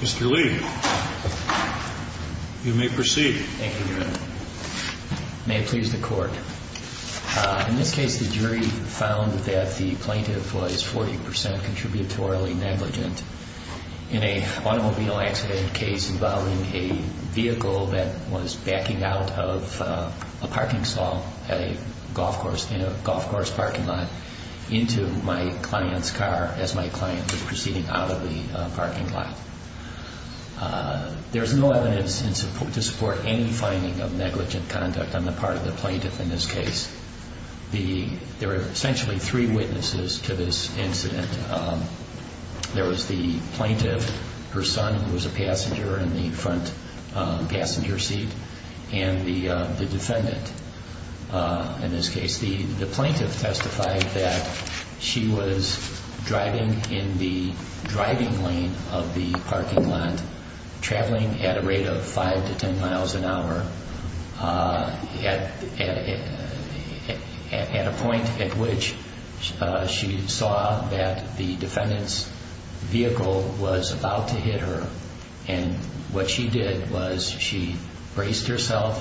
Mr. Lee, you may proceed. Thank you, Your Honor. In this case, the jury found that the plaintiff was 40% contributorily negligent in an automobile accident case involving a vehicle that was backing out of a parking saw in a golf course parking lot into my client's car as my client was proceeding out of the parking lot. There's no evidence to support any finding of negligent conduct on the part of the plaintiff in this case. There are essentially three witnesses to this incident. There was the plaintiff, her son, who was a passenger in the front passenger seat, and the defendant in this case. The plaintiff testified that she was driving in the driving lane of the parking lot, traveling at a rate of 5 to 10 miles an hour at a point at which she saw that the defendant's vehicle was about to hit her. And what she did was she braced herself,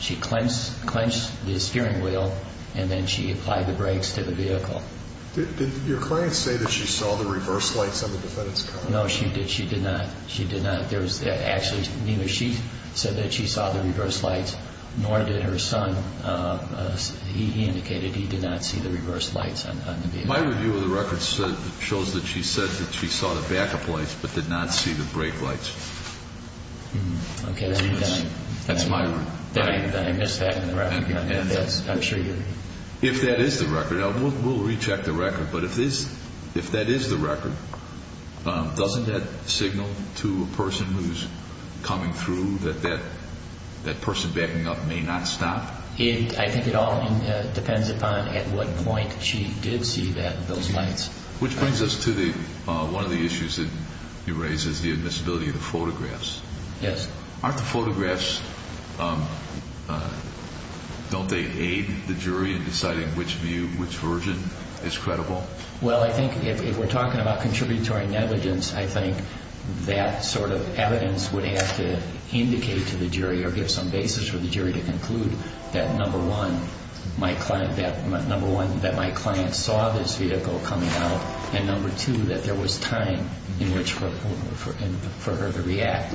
she clenched the steering wheel, and then she applied the brakes to the vehicle. Did your client say that she saw the reverse lights on the defendant's car? No, she did not. She did not. Actually, neither she said that she saw the reverse lights, nor did her son. He indicated he did not see the reverse lights on the vehicle. My review of the record shows that she said that she saw the backup lights but did not see the brake lights. Okay. That's my review. I missed that in the record. I'm sure you did. If that is the record, we'll recheck the record, but if that is the record, doesn't that signal to a person who's coming through that that person backing up may not stop? I think it all depends upon at what point she did see those lights. Which brings us to one of the issues that you raised is the admissibility of the photographs. Yes. Aren't the photographs, don't they aid the jury in deciding which view, which version is credible? Well, I think if we're talking about contributory negligence, I think that sort of evidence would have to indicate to the jury or give some basis for the jury to conclude that, number one, that my client saw this vehicle coming out, and, number two, that there was time for her to react.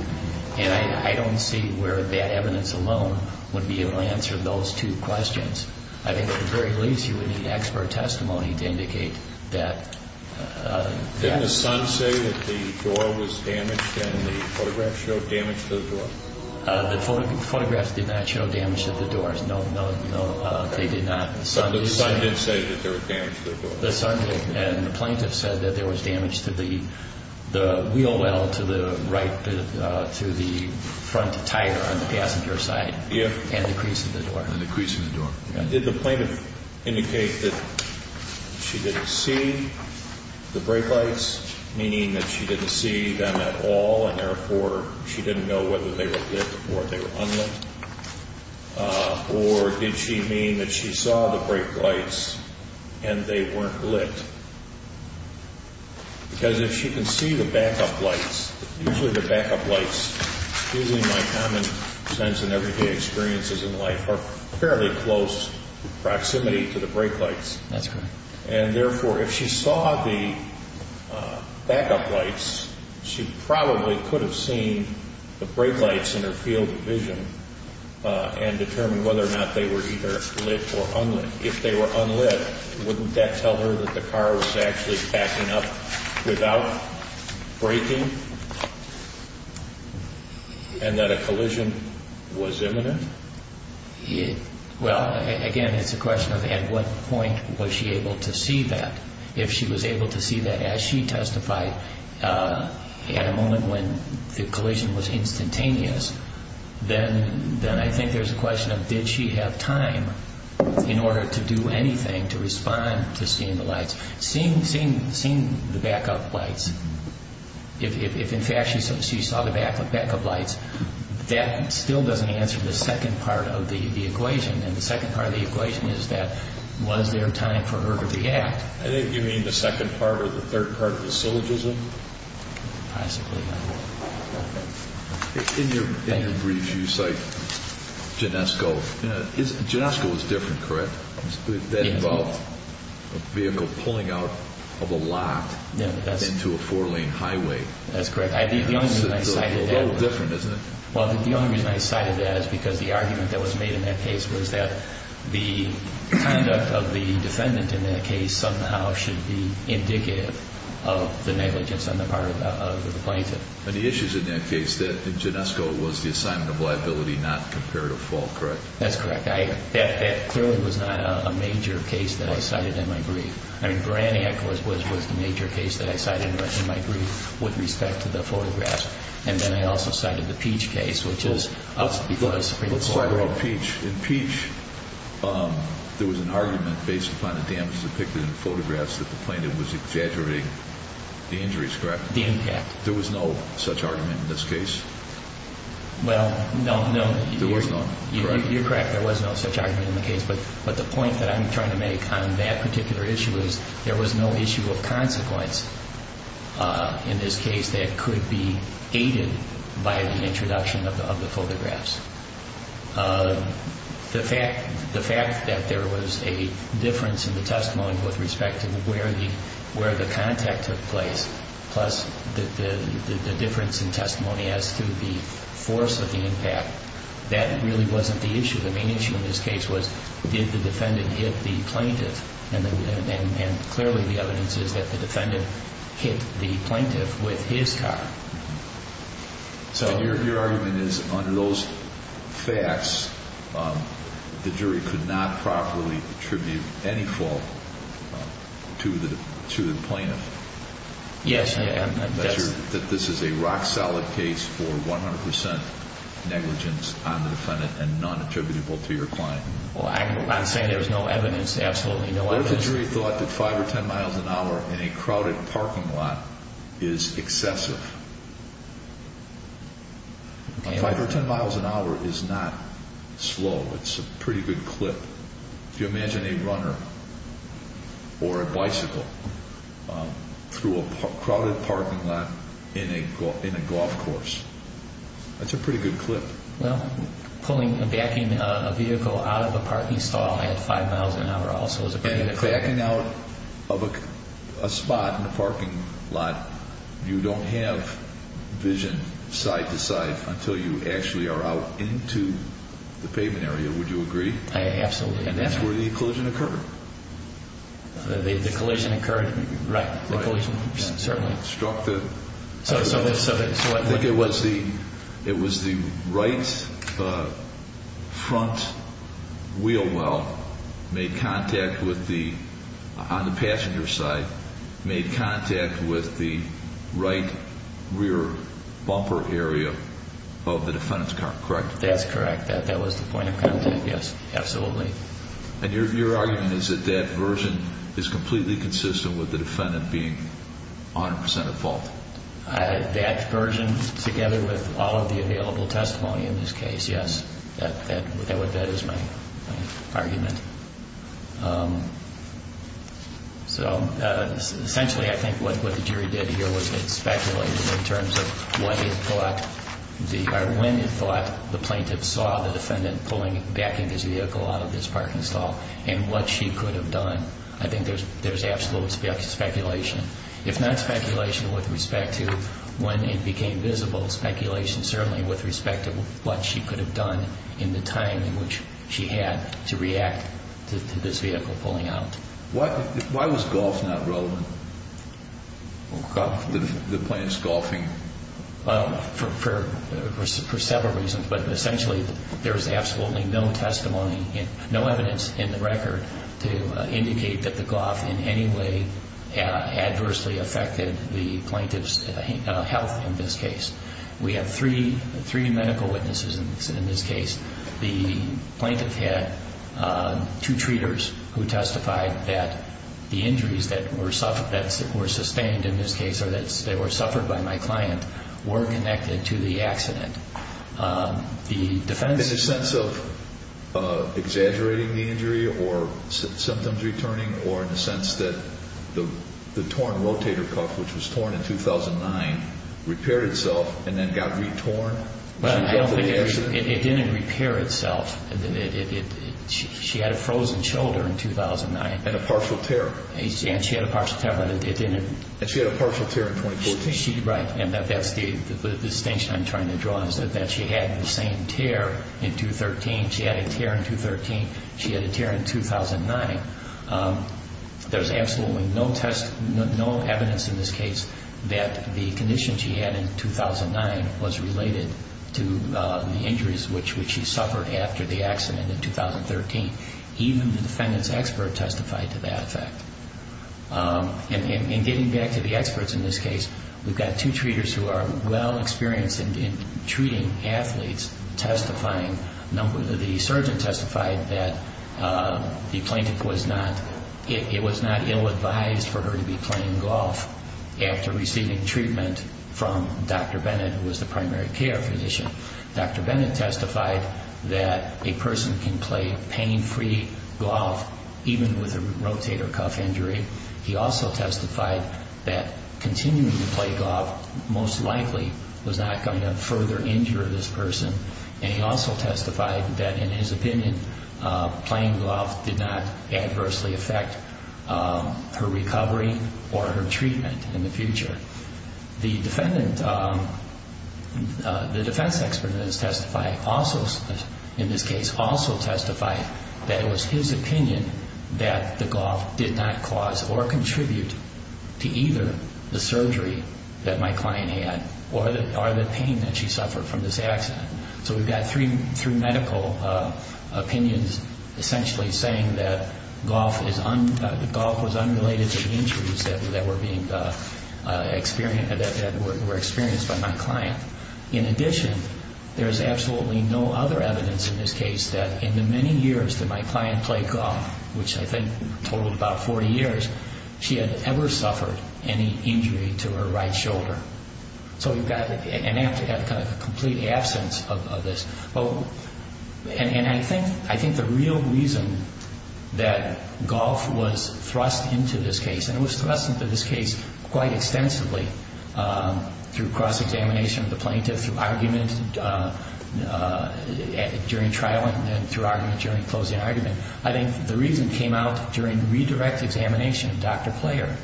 And I don't see where that evidence alone would be able to answer those two questions. I think at the very least you would need expert testimony to indicate that. Didn't the son say that the door was damaged and the photographs showed damage to the door? The photographs did not show damage to the doors. No, no, no. They did not. The son did say that there was damage to the door. The son did, and the plaintiff said that there was damage to the wheel well to the right, to the front tire on the passenger side. Yeah. And the crease in the door. Did the plaintiff indicate that she didn't see the brake lights, meaning that she didn't see them at all and, therefore, she didn't know whether they were lit or they were unlit? Or did she mean that she saw the brake lights and they weren't lit? Because if she can see the backup lights, usually the backup lights, using my common sense and everyday experiences in life, are fairly close proximity to the brake lights. That's correct. And, therefore, if she saw the backup lights, she probably could have seen the brake lights in her field of vision and determined whether or not they were either lit or unlit. If they were unlit, wouldn't that tell her that the car was actually backing up without braking and that a collision was imminent? Well, again, it's a question of at what point was she able to see that. If she was able to see that as she testified at a moment when the collision was instantaneous, then I think there's a question of did she have time in order to do anything to respond to seeing the lights. Seeing the backup lights, if, in fact, she saw the backup lights, that still doesn't answer the second part of the equation. And the second part of the equation is that was there time for her to react? I think you mean the second part or the third part of the syllogism? Possibly. In your briefs, you cite Genesco. Genesco was different, correct? Yes. That involved a vehicle pulling out of a lot into a four-lane highway. That's correct. It's a little different, isn't it? Well, the only reason I cited that is because the argument that was made in that case was that the conduct of the defendant in that case somehow should be indicative of the negligence on the part of the plaintiff. But the issue is in that case that Genesco was the assignment of liability, not comparative fault, correct? That's correct. That clearly was not a major case that I cited in my brief. I mean, Branny, of course, was the major case that I cited in my brief with respect to the photographs. And then I also cited the Peach case, which is a Supreme Court case. Let's talk about Peach. In Peach, there was an argument based upon the damage depicted in the photographs that the plaintiff was exaggerating the injuries, correct? The impact. There was no such argument in this case? Well, no, no. There was none, correct? You're correct. There was no such argument in the case. But the point that I'm trying to make on that particular issue is there was no issue of consequence in this case that could be aided by the introduction of the photographs. The fact that there was a difference in the testimony with respect to where the contact took place, plus the difference in testimony as to the force of the impact, that really wasn't the issue. The main issue in this case was did the defendant hit the plaintiff. And clearly the evidence is that the defendant hit the plaintiff with his car. So your argument is under those facts, the jury could not properly attribute any fault to the plaintiff? Yes. And that this is a rock-solid case for 100% negligence on the defendant and non-attributable to your client? Well, I'm saying there's no evidence, absolutely no evidence. What if the jury thought that 5 or 10 miles an hour in a crowded parking lot is excessive? 5 or 10 miles an hour is not slow. It's a pretty good clip. If you imagine a runner or a bicycle through a crowded parking lot in a golf course, that's a pretty good clip. Well, pulling a vehicle out of a parking stall at 5 miles an hour also is a pretty good clip. Backing out of a spot in a parking lot, you don't have vision side-to-side until you actually are out into the pavement area, would you agree? Absolutely. And that's where the collision occurred. The collision occurred, right. It was the right front wheel well on the passenger side made contact with the right rear bumper area of the defendant's car, correct? That's correct. That was the point of contact, yes, absolutely. And your argument is that that version is completely consistent with the defendant being 100% at fault? That version together with all of the available testimony in this case, yes, that is my argument. So essentially I think what the jury did here was it speculated in terms of when it thought the plaintiff saw the defendant pulling back in his vehicle out of this parking stall and what she could have done. I think there's absolute speculation. If not speculation with respect to when it became visible, speculation certainly with respect to what she could have done in the time in which she had to react to this vehicle pulling out. Why was golf not relevant? The plaintiff's golfing. For several reasons, but essentially there's absolutely no testimony, no evidence in the record to indicate that the golf in any way adversely affected the plaintiff's health in this case. We have three medical witnesses in this case. The plaintiff had two treaters who testified that the injuries that were sustained in this case or that were suffered by my client were connected to the accident. In the sense of exaggerating the injury or symptoms returning or in the sense that the torn rotator cuff, which was torn in 2009, repaired itself and then got retorned? It didn't repair itself. She had a frozen shoulder in 2009. And a partial tear. And she had a partial tear, but it didn't... And she had a partial tear in 2014. The distinction I'm trying to draw is that she had the same tear in 2013. She had a tear in 2013. She had a tear in 2009. There's absolutely no evidence in this case that the condition she had in 2009 was related to the injuries which she suffered after the accident in 2013. Even the defendant's expert testified to that effect. And getting back to the experts in this case, we've got two treaters who are well-experienced in treating athletes testifying. The surgeon testified that the plaintiff was not... It was not ill-advised for her to be playing golf after receiving treatment from Dr. Bennett, who was the primary care physician. Dr. Bennett testified that a person can play pain-free golf even with a rotator cuff injury. He also testified that continuing to play golf most likely was not going to further injure this person. And he also testified that, in his opinion, playing golf did not adversely affect her recovery or her treatment in the future. The defendant, the defense expert in this case also testified that it was his opinion that the golf did not cause or contribute to either the surgery that my client had or the pain that she suffered from this accident. So we've got three medical opinions essentially saying that golf was unrelated to the injuries that were being... that were experienced by my client. In addition, there is absolutely no other evidence in this case that in the many years that my client played golf, which I think totaled about 40 years, she had ever suffered any injury to her right shoulder. So we've got a complete absence of this. And I think the real reason that golf was thrust into this case, and it was thrust into this case quite extensively through cross-examination of the plaintiff, through argument during trial, and then through argument during closing argument, I think the reason came out during redirect examination of Dr. Player.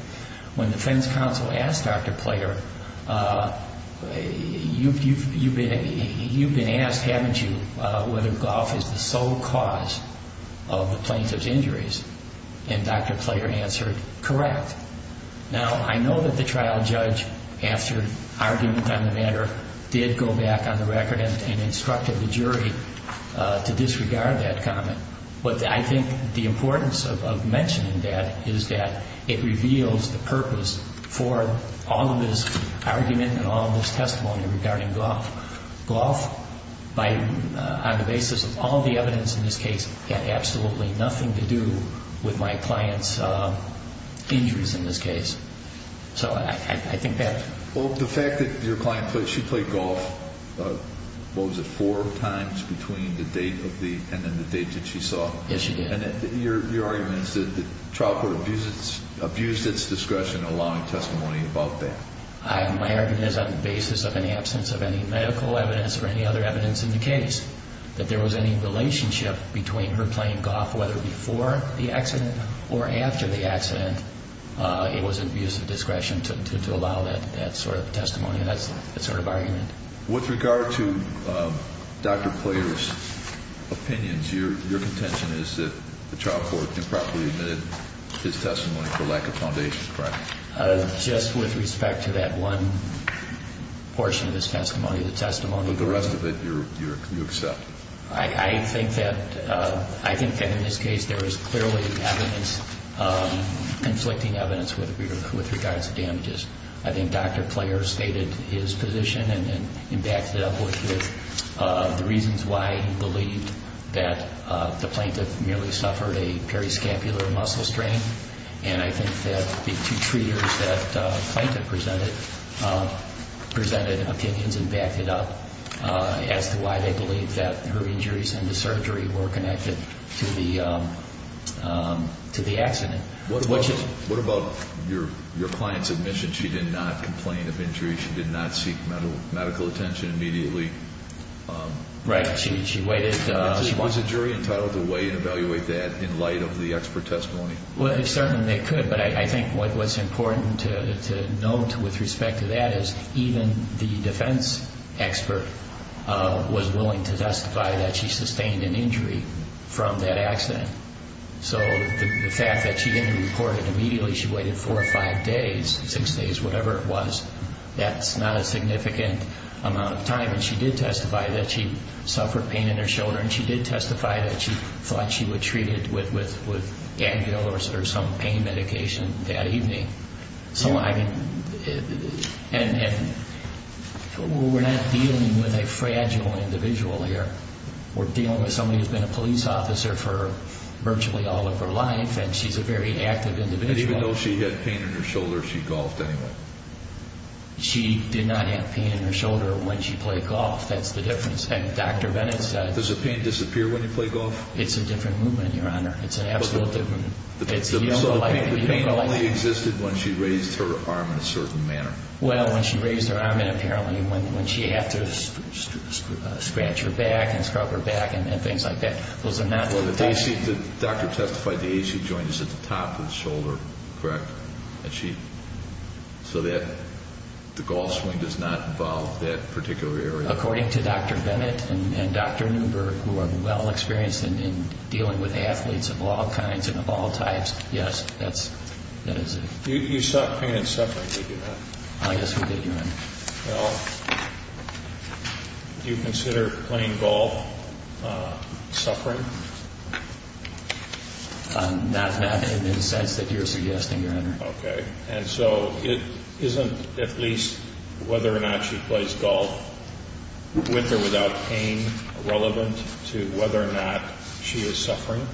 When the defense counsel asked Dr. Player, you've been asked, haven't you, whether golf is the sole cause of the plaintiff's injuries? And Dr. Player answered, correct. Now, I know that the trial judge, after argument on the matter, did go back on the record and instructed the jury to disregard that comment. But I think the importance of mentioning that is that it reveals the purpose for all of this argument and all of this testimony regarding golf. Golf, on the basis of all of the evidence in this case, had absolutely nothing to do with my client's injuries in this case. So I think that... Well, the fact that your client, she played golf, what was it, four times between the date and the date that she saw? Yes, she did. And your argument is that the trial court abused its discretion in allowing testimony about that. My argument is on the basis of an absence of any medical evidence or any other evidence in the case, that there was any relationship between her playing golf, whether before the accident or after the accident, it was an abuse of discretion to allow that sort of testimony. That's the sort of argument. With regard to Dr. Player's opinions, your contention is that the trial court improperly admitted his testimony for lack of foundation, correct? Just with respect to that one portion of his testimony, the testimony... But the rest of it you accept? I think that in this case there was clearly conflicting evidence with regards to damages. I think Dr. Player stated his position and backed it up with the reasons why he believed that the plaintiff merely suffered a periscopular muscle strain. And I think that the two treaters that the plaintiff presented, presented opinions and backed it up as to why they believed that her injuries and the surgery were connected to the accident. What about your client's admission she did not complain of injury? She did not seek medical attention immediately? Right. She waited... Was the jury entitled to weigh and evaluate that in light of the expert testimony? Well, certainly they could, but I think what's important to note with respect to that is that even the defense expert was willing to testify that she sustained an injury from that accident. So the fact that she didn't report it immediately, she waited four or five days, six days, whatever it was, that's not a significant amount of time. And she did testify that she suffered pain in her shoulder, and she did testify that she thought she was treated with gangue or some pain medication that evening. And we're not dealing with a fragile individual here. We're dealing with somebody who's been a police officer for virtually all of her life, and she's a very active individual. And even though she had pain in her shoulder, she golfed anyway? She did not have pain in her shoulder when she played golf. That's the difference. And Dr. Bennett said... Does the pain disappear when you play golf? It's a different movement, Your Honor. It's an absolutely different movement. So the pain only existed when she raised her arm in a certain manner? Well, when she raised her arm and apparently when she had to scratch her back and scrub her back and things like that. Well, the AC, the doctor testified the AC joint is at the top of the shoulder, correct? So the golf swing does not involve that particular area? According to Dr. Bennett and Dr. Newberg, who are well-experienced in dealing with athletes of all kinds and of all types, yes, that is it. You saw pain and suffering, did you not? Yes, we did, Your Honor. Well, do you consider playing golf suffering? Not in the sense that you're suggesting, Your Honor. Okay. And so it isn't at least whether or not she plays golf with or without pain relevant to whether or not she is suffering,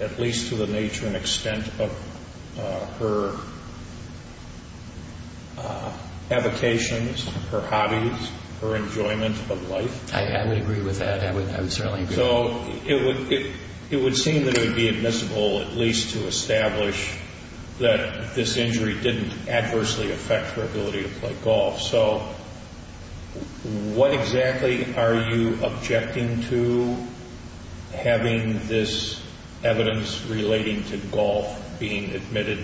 at least to the nature and extent of her avocations, her hobbies, her enjoyment of life? I would agree with that. I would certainly agree. So it would seem that it would be admissible at least to establish that this injury didn't adversely affect her ability to play golf. So what exactly are you objecting to having this evidence relating to golf being admitted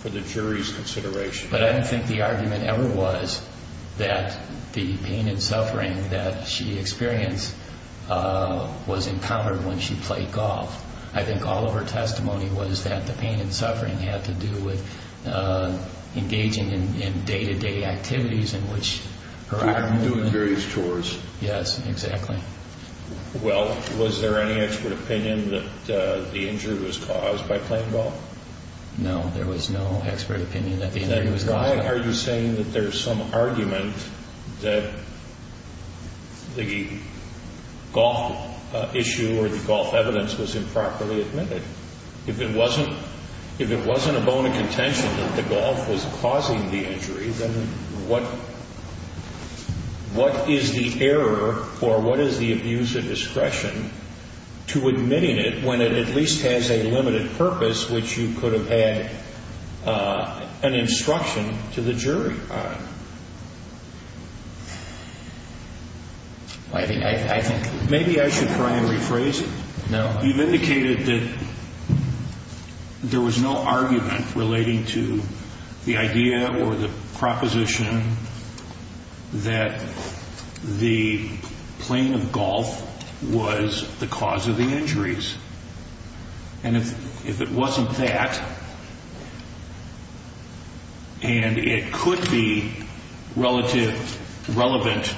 for the jury's consideration? But I don't think the argument ever was that the pain and suffering that she experienced was encountered when she played golf. I think all of her testimony was that the pain and suffering had to do with engaging in day-to-day activities in which her arm movement... Doing various chores. Yes, exactly. Well, was there any expert opinion that the injury was caused by playing golf? No, there was no expert opinion that the injury was caused by... Then why are you saying that there's some argument that the golf issue or the golf evidence was improperly admitted? If it wasn't a bone of contention that the golf was causing the injury, then what is the error or what is the abuse of discretion to admitting it when it at least has a limited purpose, which you could have had an instruction to the jury on? I think... Maybe I should try and rephrase it. No. You've indicated that there was no argument relating to the idea or the proposition that the playing of golf was the cause of the injuries. And if it wasn't that, and it could be relevant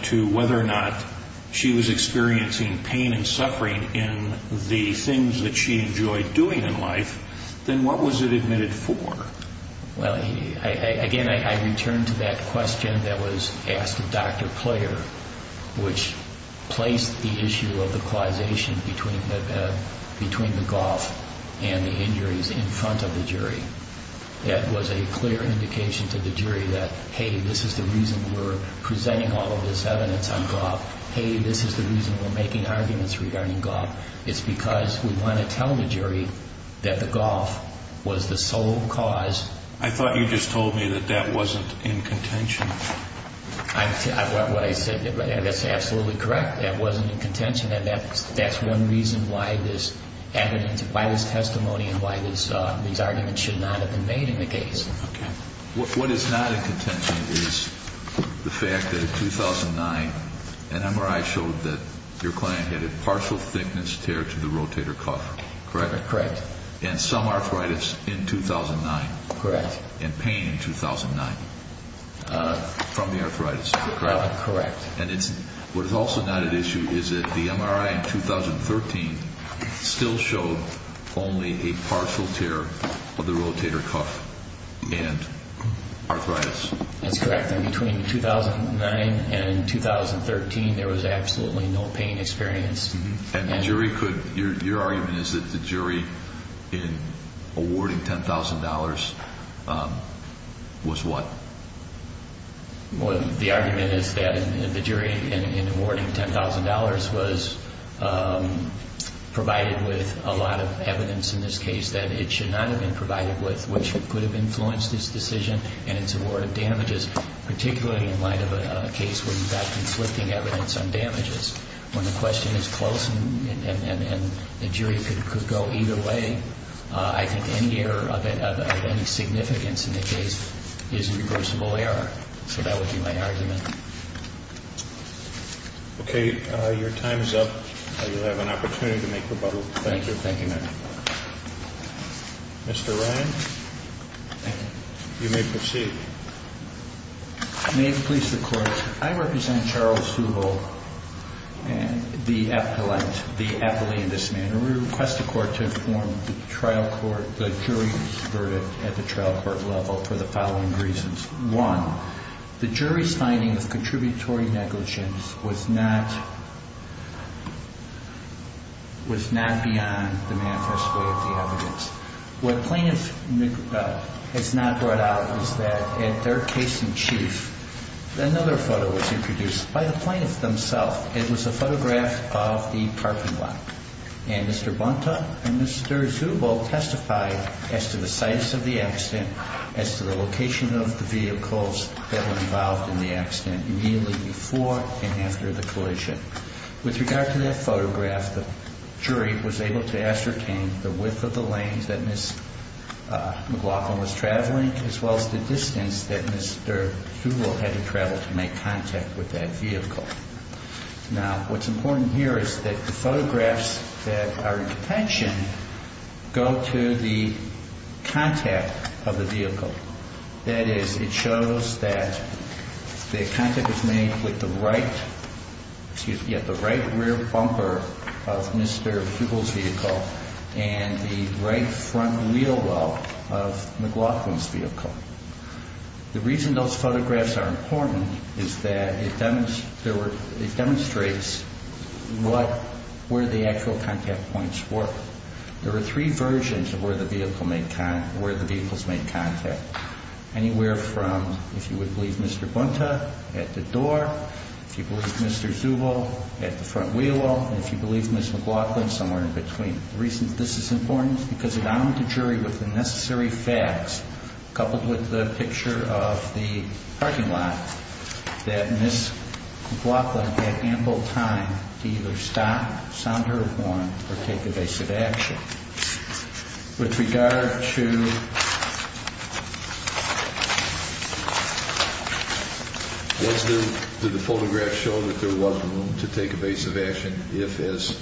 to whether or not she was experiencing pain and suffering in the things that she enjoyed doing in life, then what was it admitted for? Well, again, I return to that question that was asked of Dr. Clair, which placed the issue of the causation between the golf and the injuries in front of the jury. That was a clear indication to the jury that, hey, this is the reason we're presenting all of this evidence on golf. Hey, this is the reason we're making arguments regarding golf. It's because we want to tell the jury that the golf was the sole cause. I thought you just told me that that wasn't in contention. That's absolutely correct. That wasn't in contention, and that's one reason why this evidence, why this testimony, and why these arguments should not have been made in the case. What is not in contention is the fact that in 2009 an MRI showed that your client had a partial thickness tear to the rotator cuff, correct? Correct. And some arthritis in 2009. Correct. And pain in 2009 from the arthritis, correct? Correct. And what is also not at issue is that the MRI in 2013 still showed only a partial tear of the rotator cuff and arthritis. That's correct. And between 2009 and 2013, there was absolutely no pain experience. And the jury could, your argument is that the jury in awarding $10,000 was what? The argument is that the jury in awarding $10,000 was provided with a lot of evidence in this case that it should not have been provided with, which could have influenced this decision and its award of damages, particularly in light of a case where you've got conflicting evidence on damages. When the question is close and the jury could go either way, I think any error of any significance in the case is a reversible error. So that would be my argument. Okay. Your time is up. You'll have an opportunity to make rebuttal. Thank you. Thank you, ma'am. Mr. Ryan. Thank you. You may proceed. May it please the Court. I represent Charles Subel, the appellee in this manner. We request the Court to inform the jury's verdict at the trial court level for the following reasons. One, the jury's finding of contributory negligence was not beyond the manifest way of the evidence. What plaintiff has not brought out is that in their case in chief, another photo was introduced. By the plaintiffs themselves, it was a photograph of the parking lot. And Mr. Bonta and Mr. Subel testified as to the size of the accident, as to the location of the vehicles that were involved in the accident immediately before and after the collision. With regard to that photograph, the jury was able to ascertain the width of the lanes that Ms. McLaughlin was traveling, as well as the distance that Mr. Subel had to travel to make contact with that vehicle. Now, what's important here is that the photographs that are in detention go to the contact of the vehicle. That is, it shows that the contact was made with the right rear bumper of Mr. Subel's vehicle and the right front wheel well of McLaughlin's vehicle. The reason those photographs are important is that it demonstrates where the actual contact points were. There are three versions of where the vehicles made contact. Anywhere from, if you would believe Mr. Bonta, at the door, if you believe Mr. Subel, at the front wheel well, and if you believe Ms. McLaughlin, somewhere in between. The reason this is important is because it armed the jury with the necessary facts, coupled with the picture of the parking lot, that Ms. McLaughlin had ample time to either stop, sound her alarm, or take evasive action. With regard to... Was there, did the photograph show that there was room to take evasive action? If, as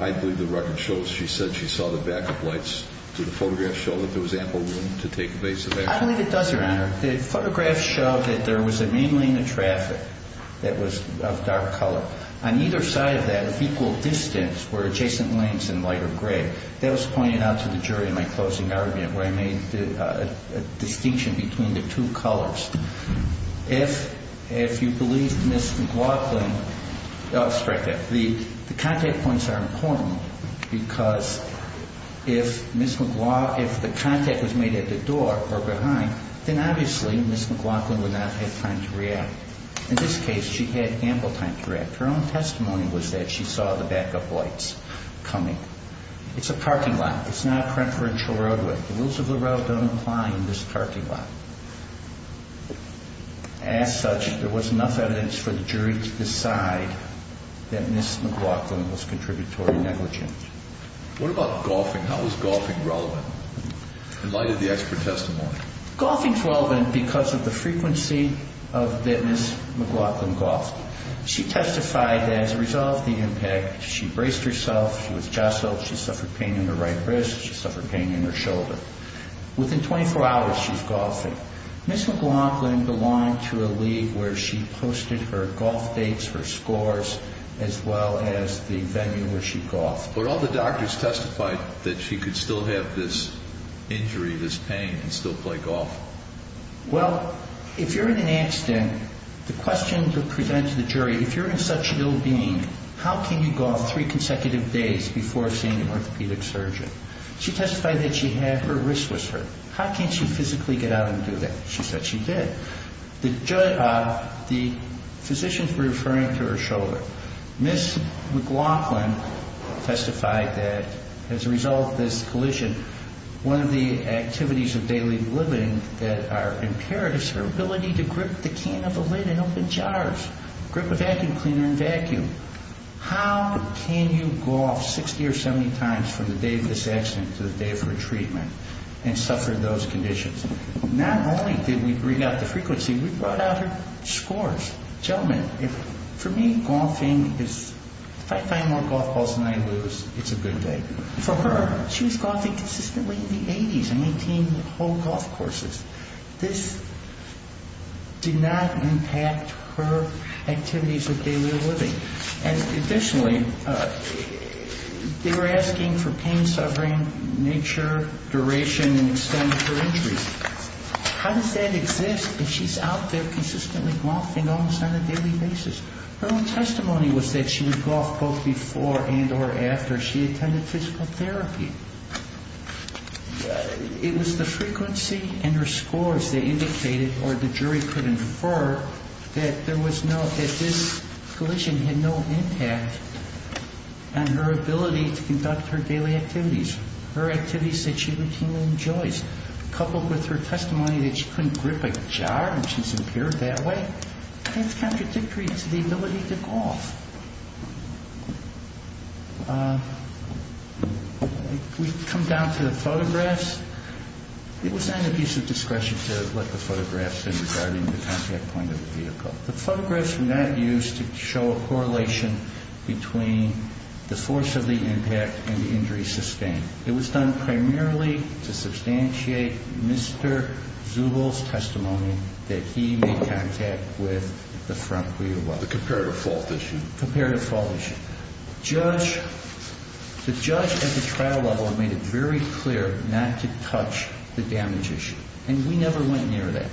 I believe the record shows, she said she saw the backup lights, did the photograph show that there was ample room to take evasive action? I believe it does, Your Honor. The photograph showed that there was a main lane of traffic that was of dark color. On either side of that, of equal distance, were adjacent lanes in lighter gray. That was pointed out to the jury in my closing argument, where I made a distinction between the two colors. If you believe Ms. McLaughlin... Oh, it's right there. The contact points are important because if Ms. McLaugh... If the contact was made at the door or behind, then obviously Ms. McLaughlin would not have time to react. In this case, she had ample time to react. Her own testimony was that she saw the backup lights coming. It's a parking lot. It's not a preferential roadway. The rules of the road don't apply in this parking lot. As such, there was enough evidence for the jury to decide that Ms. McLaughlin was contributory negligent. What about golfing? How was golfing relevant in light of the expert testimony? Golfing's relevant because of the frequency that Ms. McLaughlin golfed. She testified that as a result of the impact, she braced herself, she was jostled, she suffered pain in her right wrist, she suffered pain in her shoulder. Within 24 hours, she's golfing. Ms. McLaughlin belonged to a league where she posted her golf dates, her scores, as well as the venue where she golfed. But all the doctors testified that she could still have this injury, this pain, and still play golf. Well, if you're in an accident, the question to present to the jury, if you're in such ill-being, how can you golf three consecutive days before seeing an orthopedic surgeon? She testified that she had her wrist was hurt. How can she physically get out and do that? She said she did. The physicians were referring to her shoulder. Ms. McLaughlin testified that as a result of this collision, one of the activities of daily living that are imperative is her ability to grip the can of a lid in open jars, grip a vacuum cleaner in vacuum. How can you golf 60 or 70 times from the day of this accident to the day of her treatment and suffer those conditions? Not only did we read out the frequency, we brought out her scores. Gentlemen, for me, golfing is, if I find more golf balls than I lose, it's a good day. For her, she was golfing consistently in the 80s and maintained whole golf courses. This did not impact her activities of daily living. Additionally, they were asking for pain, suffering, nature, duration, and extent of her injuries. How does that exist if she's out there consistently golfing almost on a daily basis? Her own testimony was that she would golf both before and or after she attended physical therapy. It was the frequency and her scores that indicated, or the jury could infer, that this collision had no impact on her ability to conduct her daily activities, her activities that she routinely enjoys. Coupled with her testimony that she couldn't grip a jar and she's impaired that way, that's contradictory to the ability to golf. We've come down to the photographs. It was on the abuse of discretion to let the photographs in regarding the contact point of the vehicle. The photographs were not used to show a correlation between the force of the impact and the injury sustained. It was done primarily to substantiate Mr. Zubel's testimony that he made contact with the front wheel well. The comparative fault issue. Comparative fault issue. The judge at the trial level made it very clear not to touch the damage issue, and we never went near that.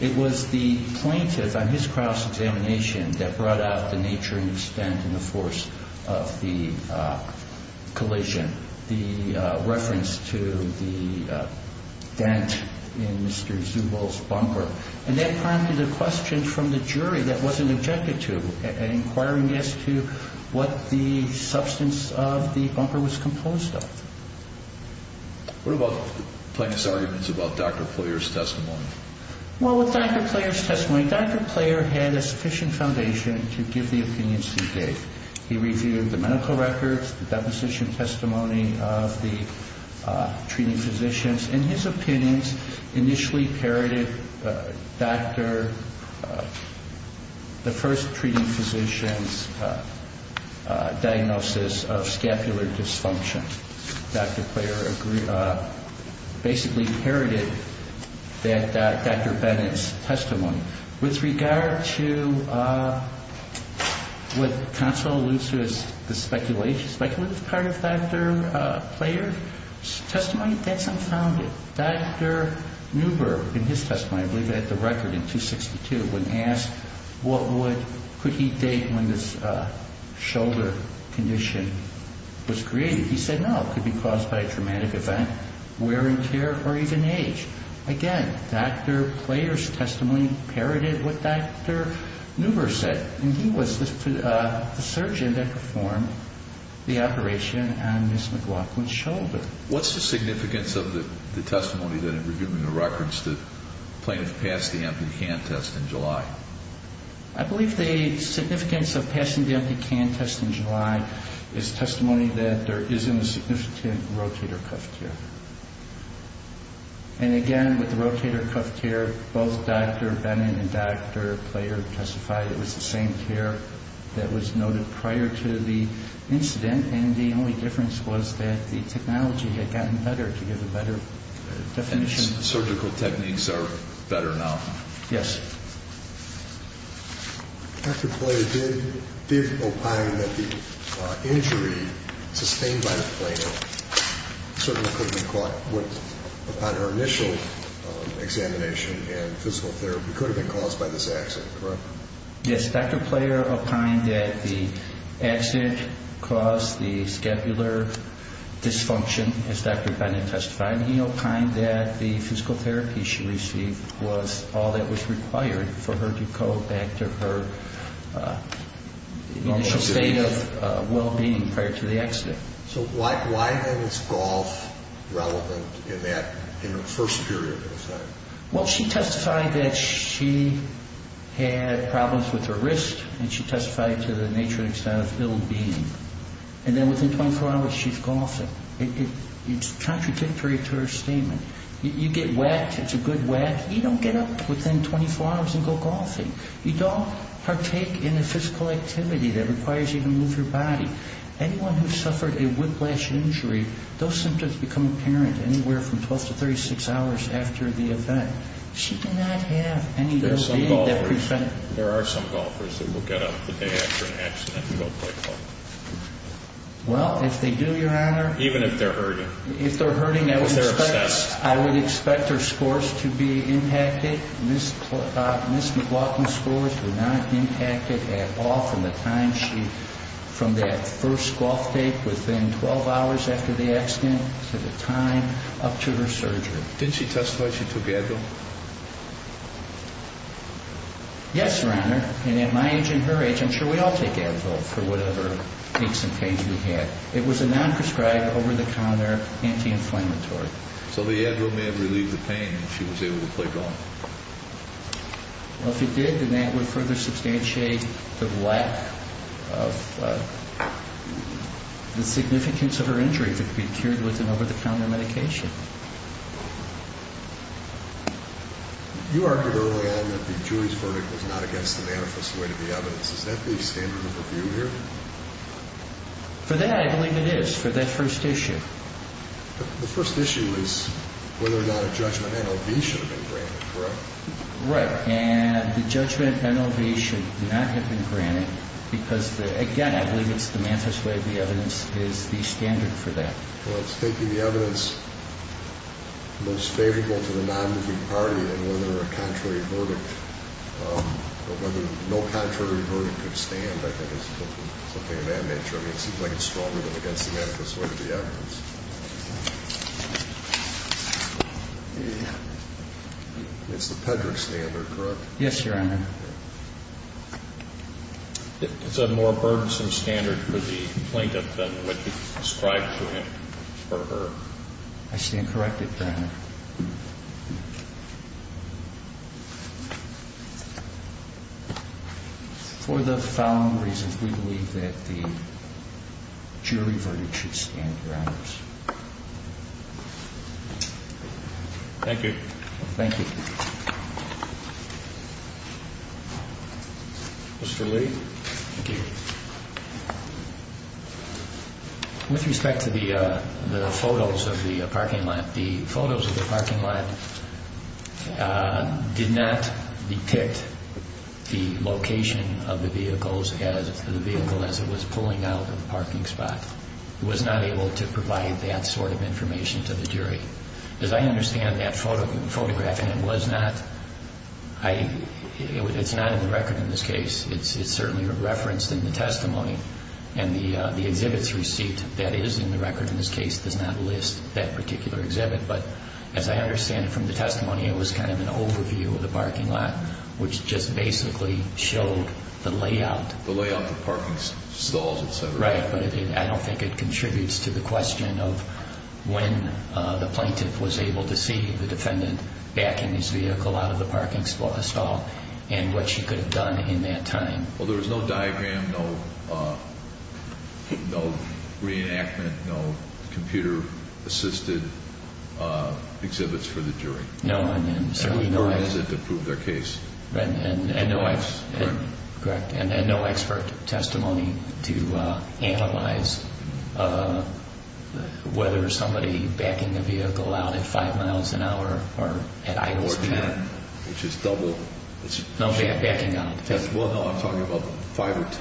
It was the plaintiff on his cross-examination that brought out the nature and extent and the force of the collision, the reference to the dent in Mr. Zubel's bumper, and that prompted a question from the jury that wasn't objected to, inquiring as to what the substance of the bumper was composed of. What about plaintiff's arguments about Dr. Player's testimony? Well, with Dr. Player's testimony, Dr. Player had a sufficient foundation to give the opinions he gave. He reviewed the medical records, the deposition testimony of the treating physicians, and his opinions initially parroted the first treating physician's diagnosis of scapular dysfunction. Dr. Player basically parroted Dr. Bennett's testimony. With regard to what counsel alludes to as the speculative part of Dr. Player's testimony, that's unfounded. Dr. Neuber, in his testimony, I believe he had the record in 262, when asked could he date when this shoulder condition was created, he said no. It could be caused by a traumatic event, wear and tear, or even age. Again, Dr. Player's testimony parroted what Dr. Neuber said, and he was the surgeon that performed the operation on Ms. McLaughlin's shoulder. What's the significance of the testimony that, in reviewing the records, the plaintiff passed the empty can test in July? I believe the significance of passing the empty can test in July is testimony that there isn't a significant rotator cuff tear. And again, with the rotator cuff tear, both Dr. Bennett and Dr. Player testified it was the same tear that was noted prior to the incident, and the only difference was that the technology had gotten better to give a better definition. Surgical techniques are better now. Yes. Dr. Player did opine that the injury sustained by the plaintiff certainly could have been caused upon her initial examination and physical therapy could have been caused by this accident, correct? Yes. Dr. Player opined that the accident caused the scapular dysfunction, as Dr. Bennett testified. He opined that the physical therapy she received was all that was required for her to go back to her initial state of well-being prior to the accident. So why then is golf relevant in that first period of time? Well, she testified that she had problems with her wrist, and she testified to the nature and extent of ill-being. And then within 24 hours she's golfing. It's contradictory to her statement. You get wet, it's a good wet, you don't get up within 24 hours and go golfing. You don't partake in a physical activity that requires you to move your body. Anyone who's suffered a whiplash injury, those symptoms become apparent anywhere from 12 to 36 hours after the event. She did not have any ill-being that prevented it. There are some golfers that will get up the day after an accident and go play golf. Well, if they do, Your Honor. Even if they're hurting. If they're hurting, I would expect their scores to be impacted. Ms. McLaughlin's scores were not impacted at all from the time she, from that first golf date within 12 hours after the accident to the time up to her surgery. Didn't she testify she took Advil? Yes, Your Honor. And at my age and her age, I'm sure we all take Advil for whatever aches and pains we had. It was a non-prescribed, over-the-counter anti-inflammatory. So the Advil may have relieved the pain and she was able to play golf. Well, if it did, then that would further substantiate the lack of the significance of her injury that could be cured with an over-the-counter medication. You argued early on that the jury's verdict was not against the manifest weight of the evidence. Is that the standard of review here? For that, I believe it is for that first issue. The first issue is whether or not a judgment and ovation have been granted, correct? Right, and the judgment and ovation do not have been granted because, again, I believe it's the manifest weight of the evidence is the standard for that. Well, it's taking the evidence most favorable to the non-moving party and whether a contrary verdict or whether no contrary verdict could stand, I think, is something of that nature. I mean, it seems like it's stronger than against the manifest weight of the evidence. It's the Pedrick standard, correct? Yes, Your Honor. It's a more burdensome standard for the plaintiff than what you described to him or her. I stand corrected, Your Honor. For the following reasons, we believe that the jury verdict should stand, Your Honor. Thank you. Thank you. Mr. Lee. Thank you. With respect to the photos of the parking lot, the photos of the parking lot did not depict the location of the vehicle as it was pulling out of the parking spot. It was not able to provide that sort of information to the jury. As I understand that photograph, and it was not, it's not in the record in this case, it's certainly referenced in the testimony, and the exhibit's receipt that is in the record in this case does not list that particular exhibit, but as I understand it from the testimony, it was kind of an overview of the parking lot, which just basically showed the layout. The layout of the parking stalls, et cetera. Right, but I don't think it contributes to the question of when the plaintiff was able to see the defendant backing his vehicle out of the parking stall and what she could have done in that time. Well, there was no diagram, no reenactment, no computer-assisted exhibits for the jury. No. And certainly no expert to prove their case. And no expert testimony to analyze whether somebody backing a vehicle out at 5 miles an hour or at idle speed. Or 10, which is double. No, backing out. Well, no, I'm talking about 5 or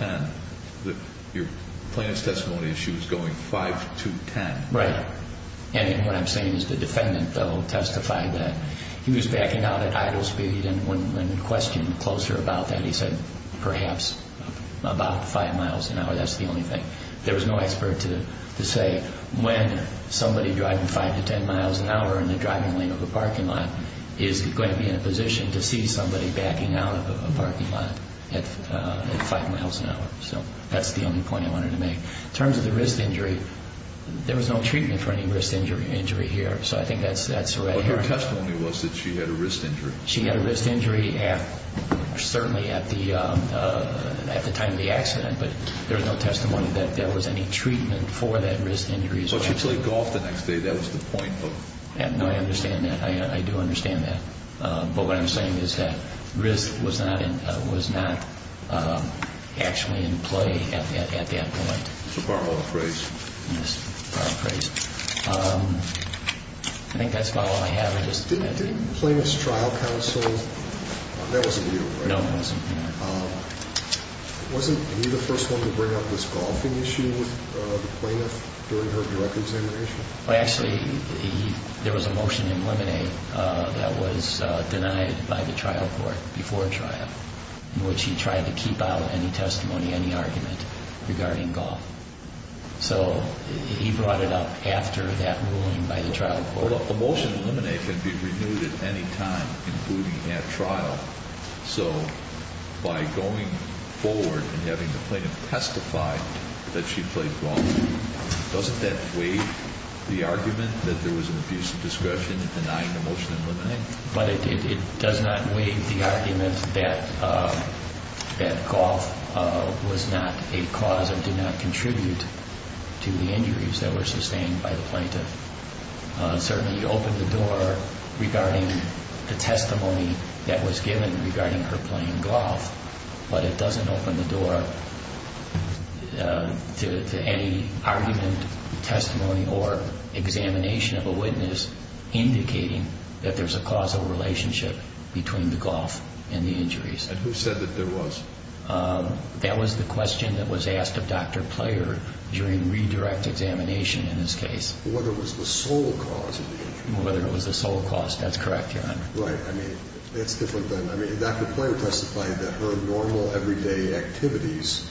10. Your plaintiff's testimony is she was going 5 to 10. Right. And what I'm saying is the defendant, though, testified that he was backing out at idle speed and when questioned closer about that, he said perhaps about 5 miles an hour. That's the only thing. There was no expert to say when somebody driving 5 to 10 miles an hour in the driving lane of a parking lot is going to be in a position to see somebody backing out of a parking lot at 5 miles an hour. So that's the only point I wanted to make. In terms of the wrist injury, there was no treatment for any wrist injury here. So I think that's right here. Well, her testimony was that she had a wrist injury. She had a wrist injury certainly at the time of the accident, but there was no testimony that there was any treatment for that wrist injury. Well, she played golf the next day. That was the point. No, I understand that. I do understand that. But what I'm saying is that wrist was not actually in play at that point. So borrow a phrase. Yes, borrow a phrase. I think that's about all I have. Didn't plaintiff's trial counsel, that wasn't you, right? No, it wasn't. Wasn't he the first one to bring up this golfing issue with the plaintiff during her direct examination? Well, actually, there was a motion in limine that was denied by the trial court before trial in which he tried to keep out any testimony, any argument regarding golf. So he brought it up after that ruling by the trial court. Well, the motion in limine can be renewed at any time, including at trial. So by going forward and having the plaintiff testify that she played golf, doesn't that waive the argument that there was an abuse of discretion in denying the motion in limine? But it does not waive the argument that golf was not a cause or did not contribute to the injuries that were sustained by the plaintiff. Certainly, you open the door regarding the testimony that was given regarding her playing golf, but it doesn't open the door to any argument, testimony, or examination of a witness indicating that there's a causal relationship between the golf and the injuries. And who said that there was? That was the question that was asked of Dr. Player during redirect examination in this case. Whether it was the sole cause of the injuries. Whether it was the sole cause, that's correct, Your Honor. Right, I mean, that's different than, I mean, Dr. Player testified that her normal everyday activities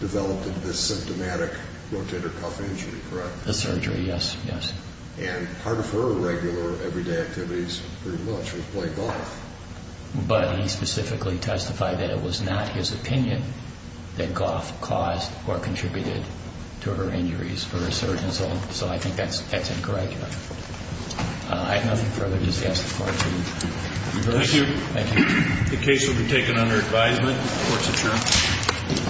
developed this symptomatic rotator cuff injury, correct? The surgery, yes, yes. And part of her regular everyday activities pretty much was play golf. But he specifically testified that it was not his opinion that golf caused or contributed to her injuries for a certain, so I think that's incorrect, Your Honor. I have nothing further to say as far as the reverse. Thank you. Thank you. The case will be taken under advisement. Court is adjourned.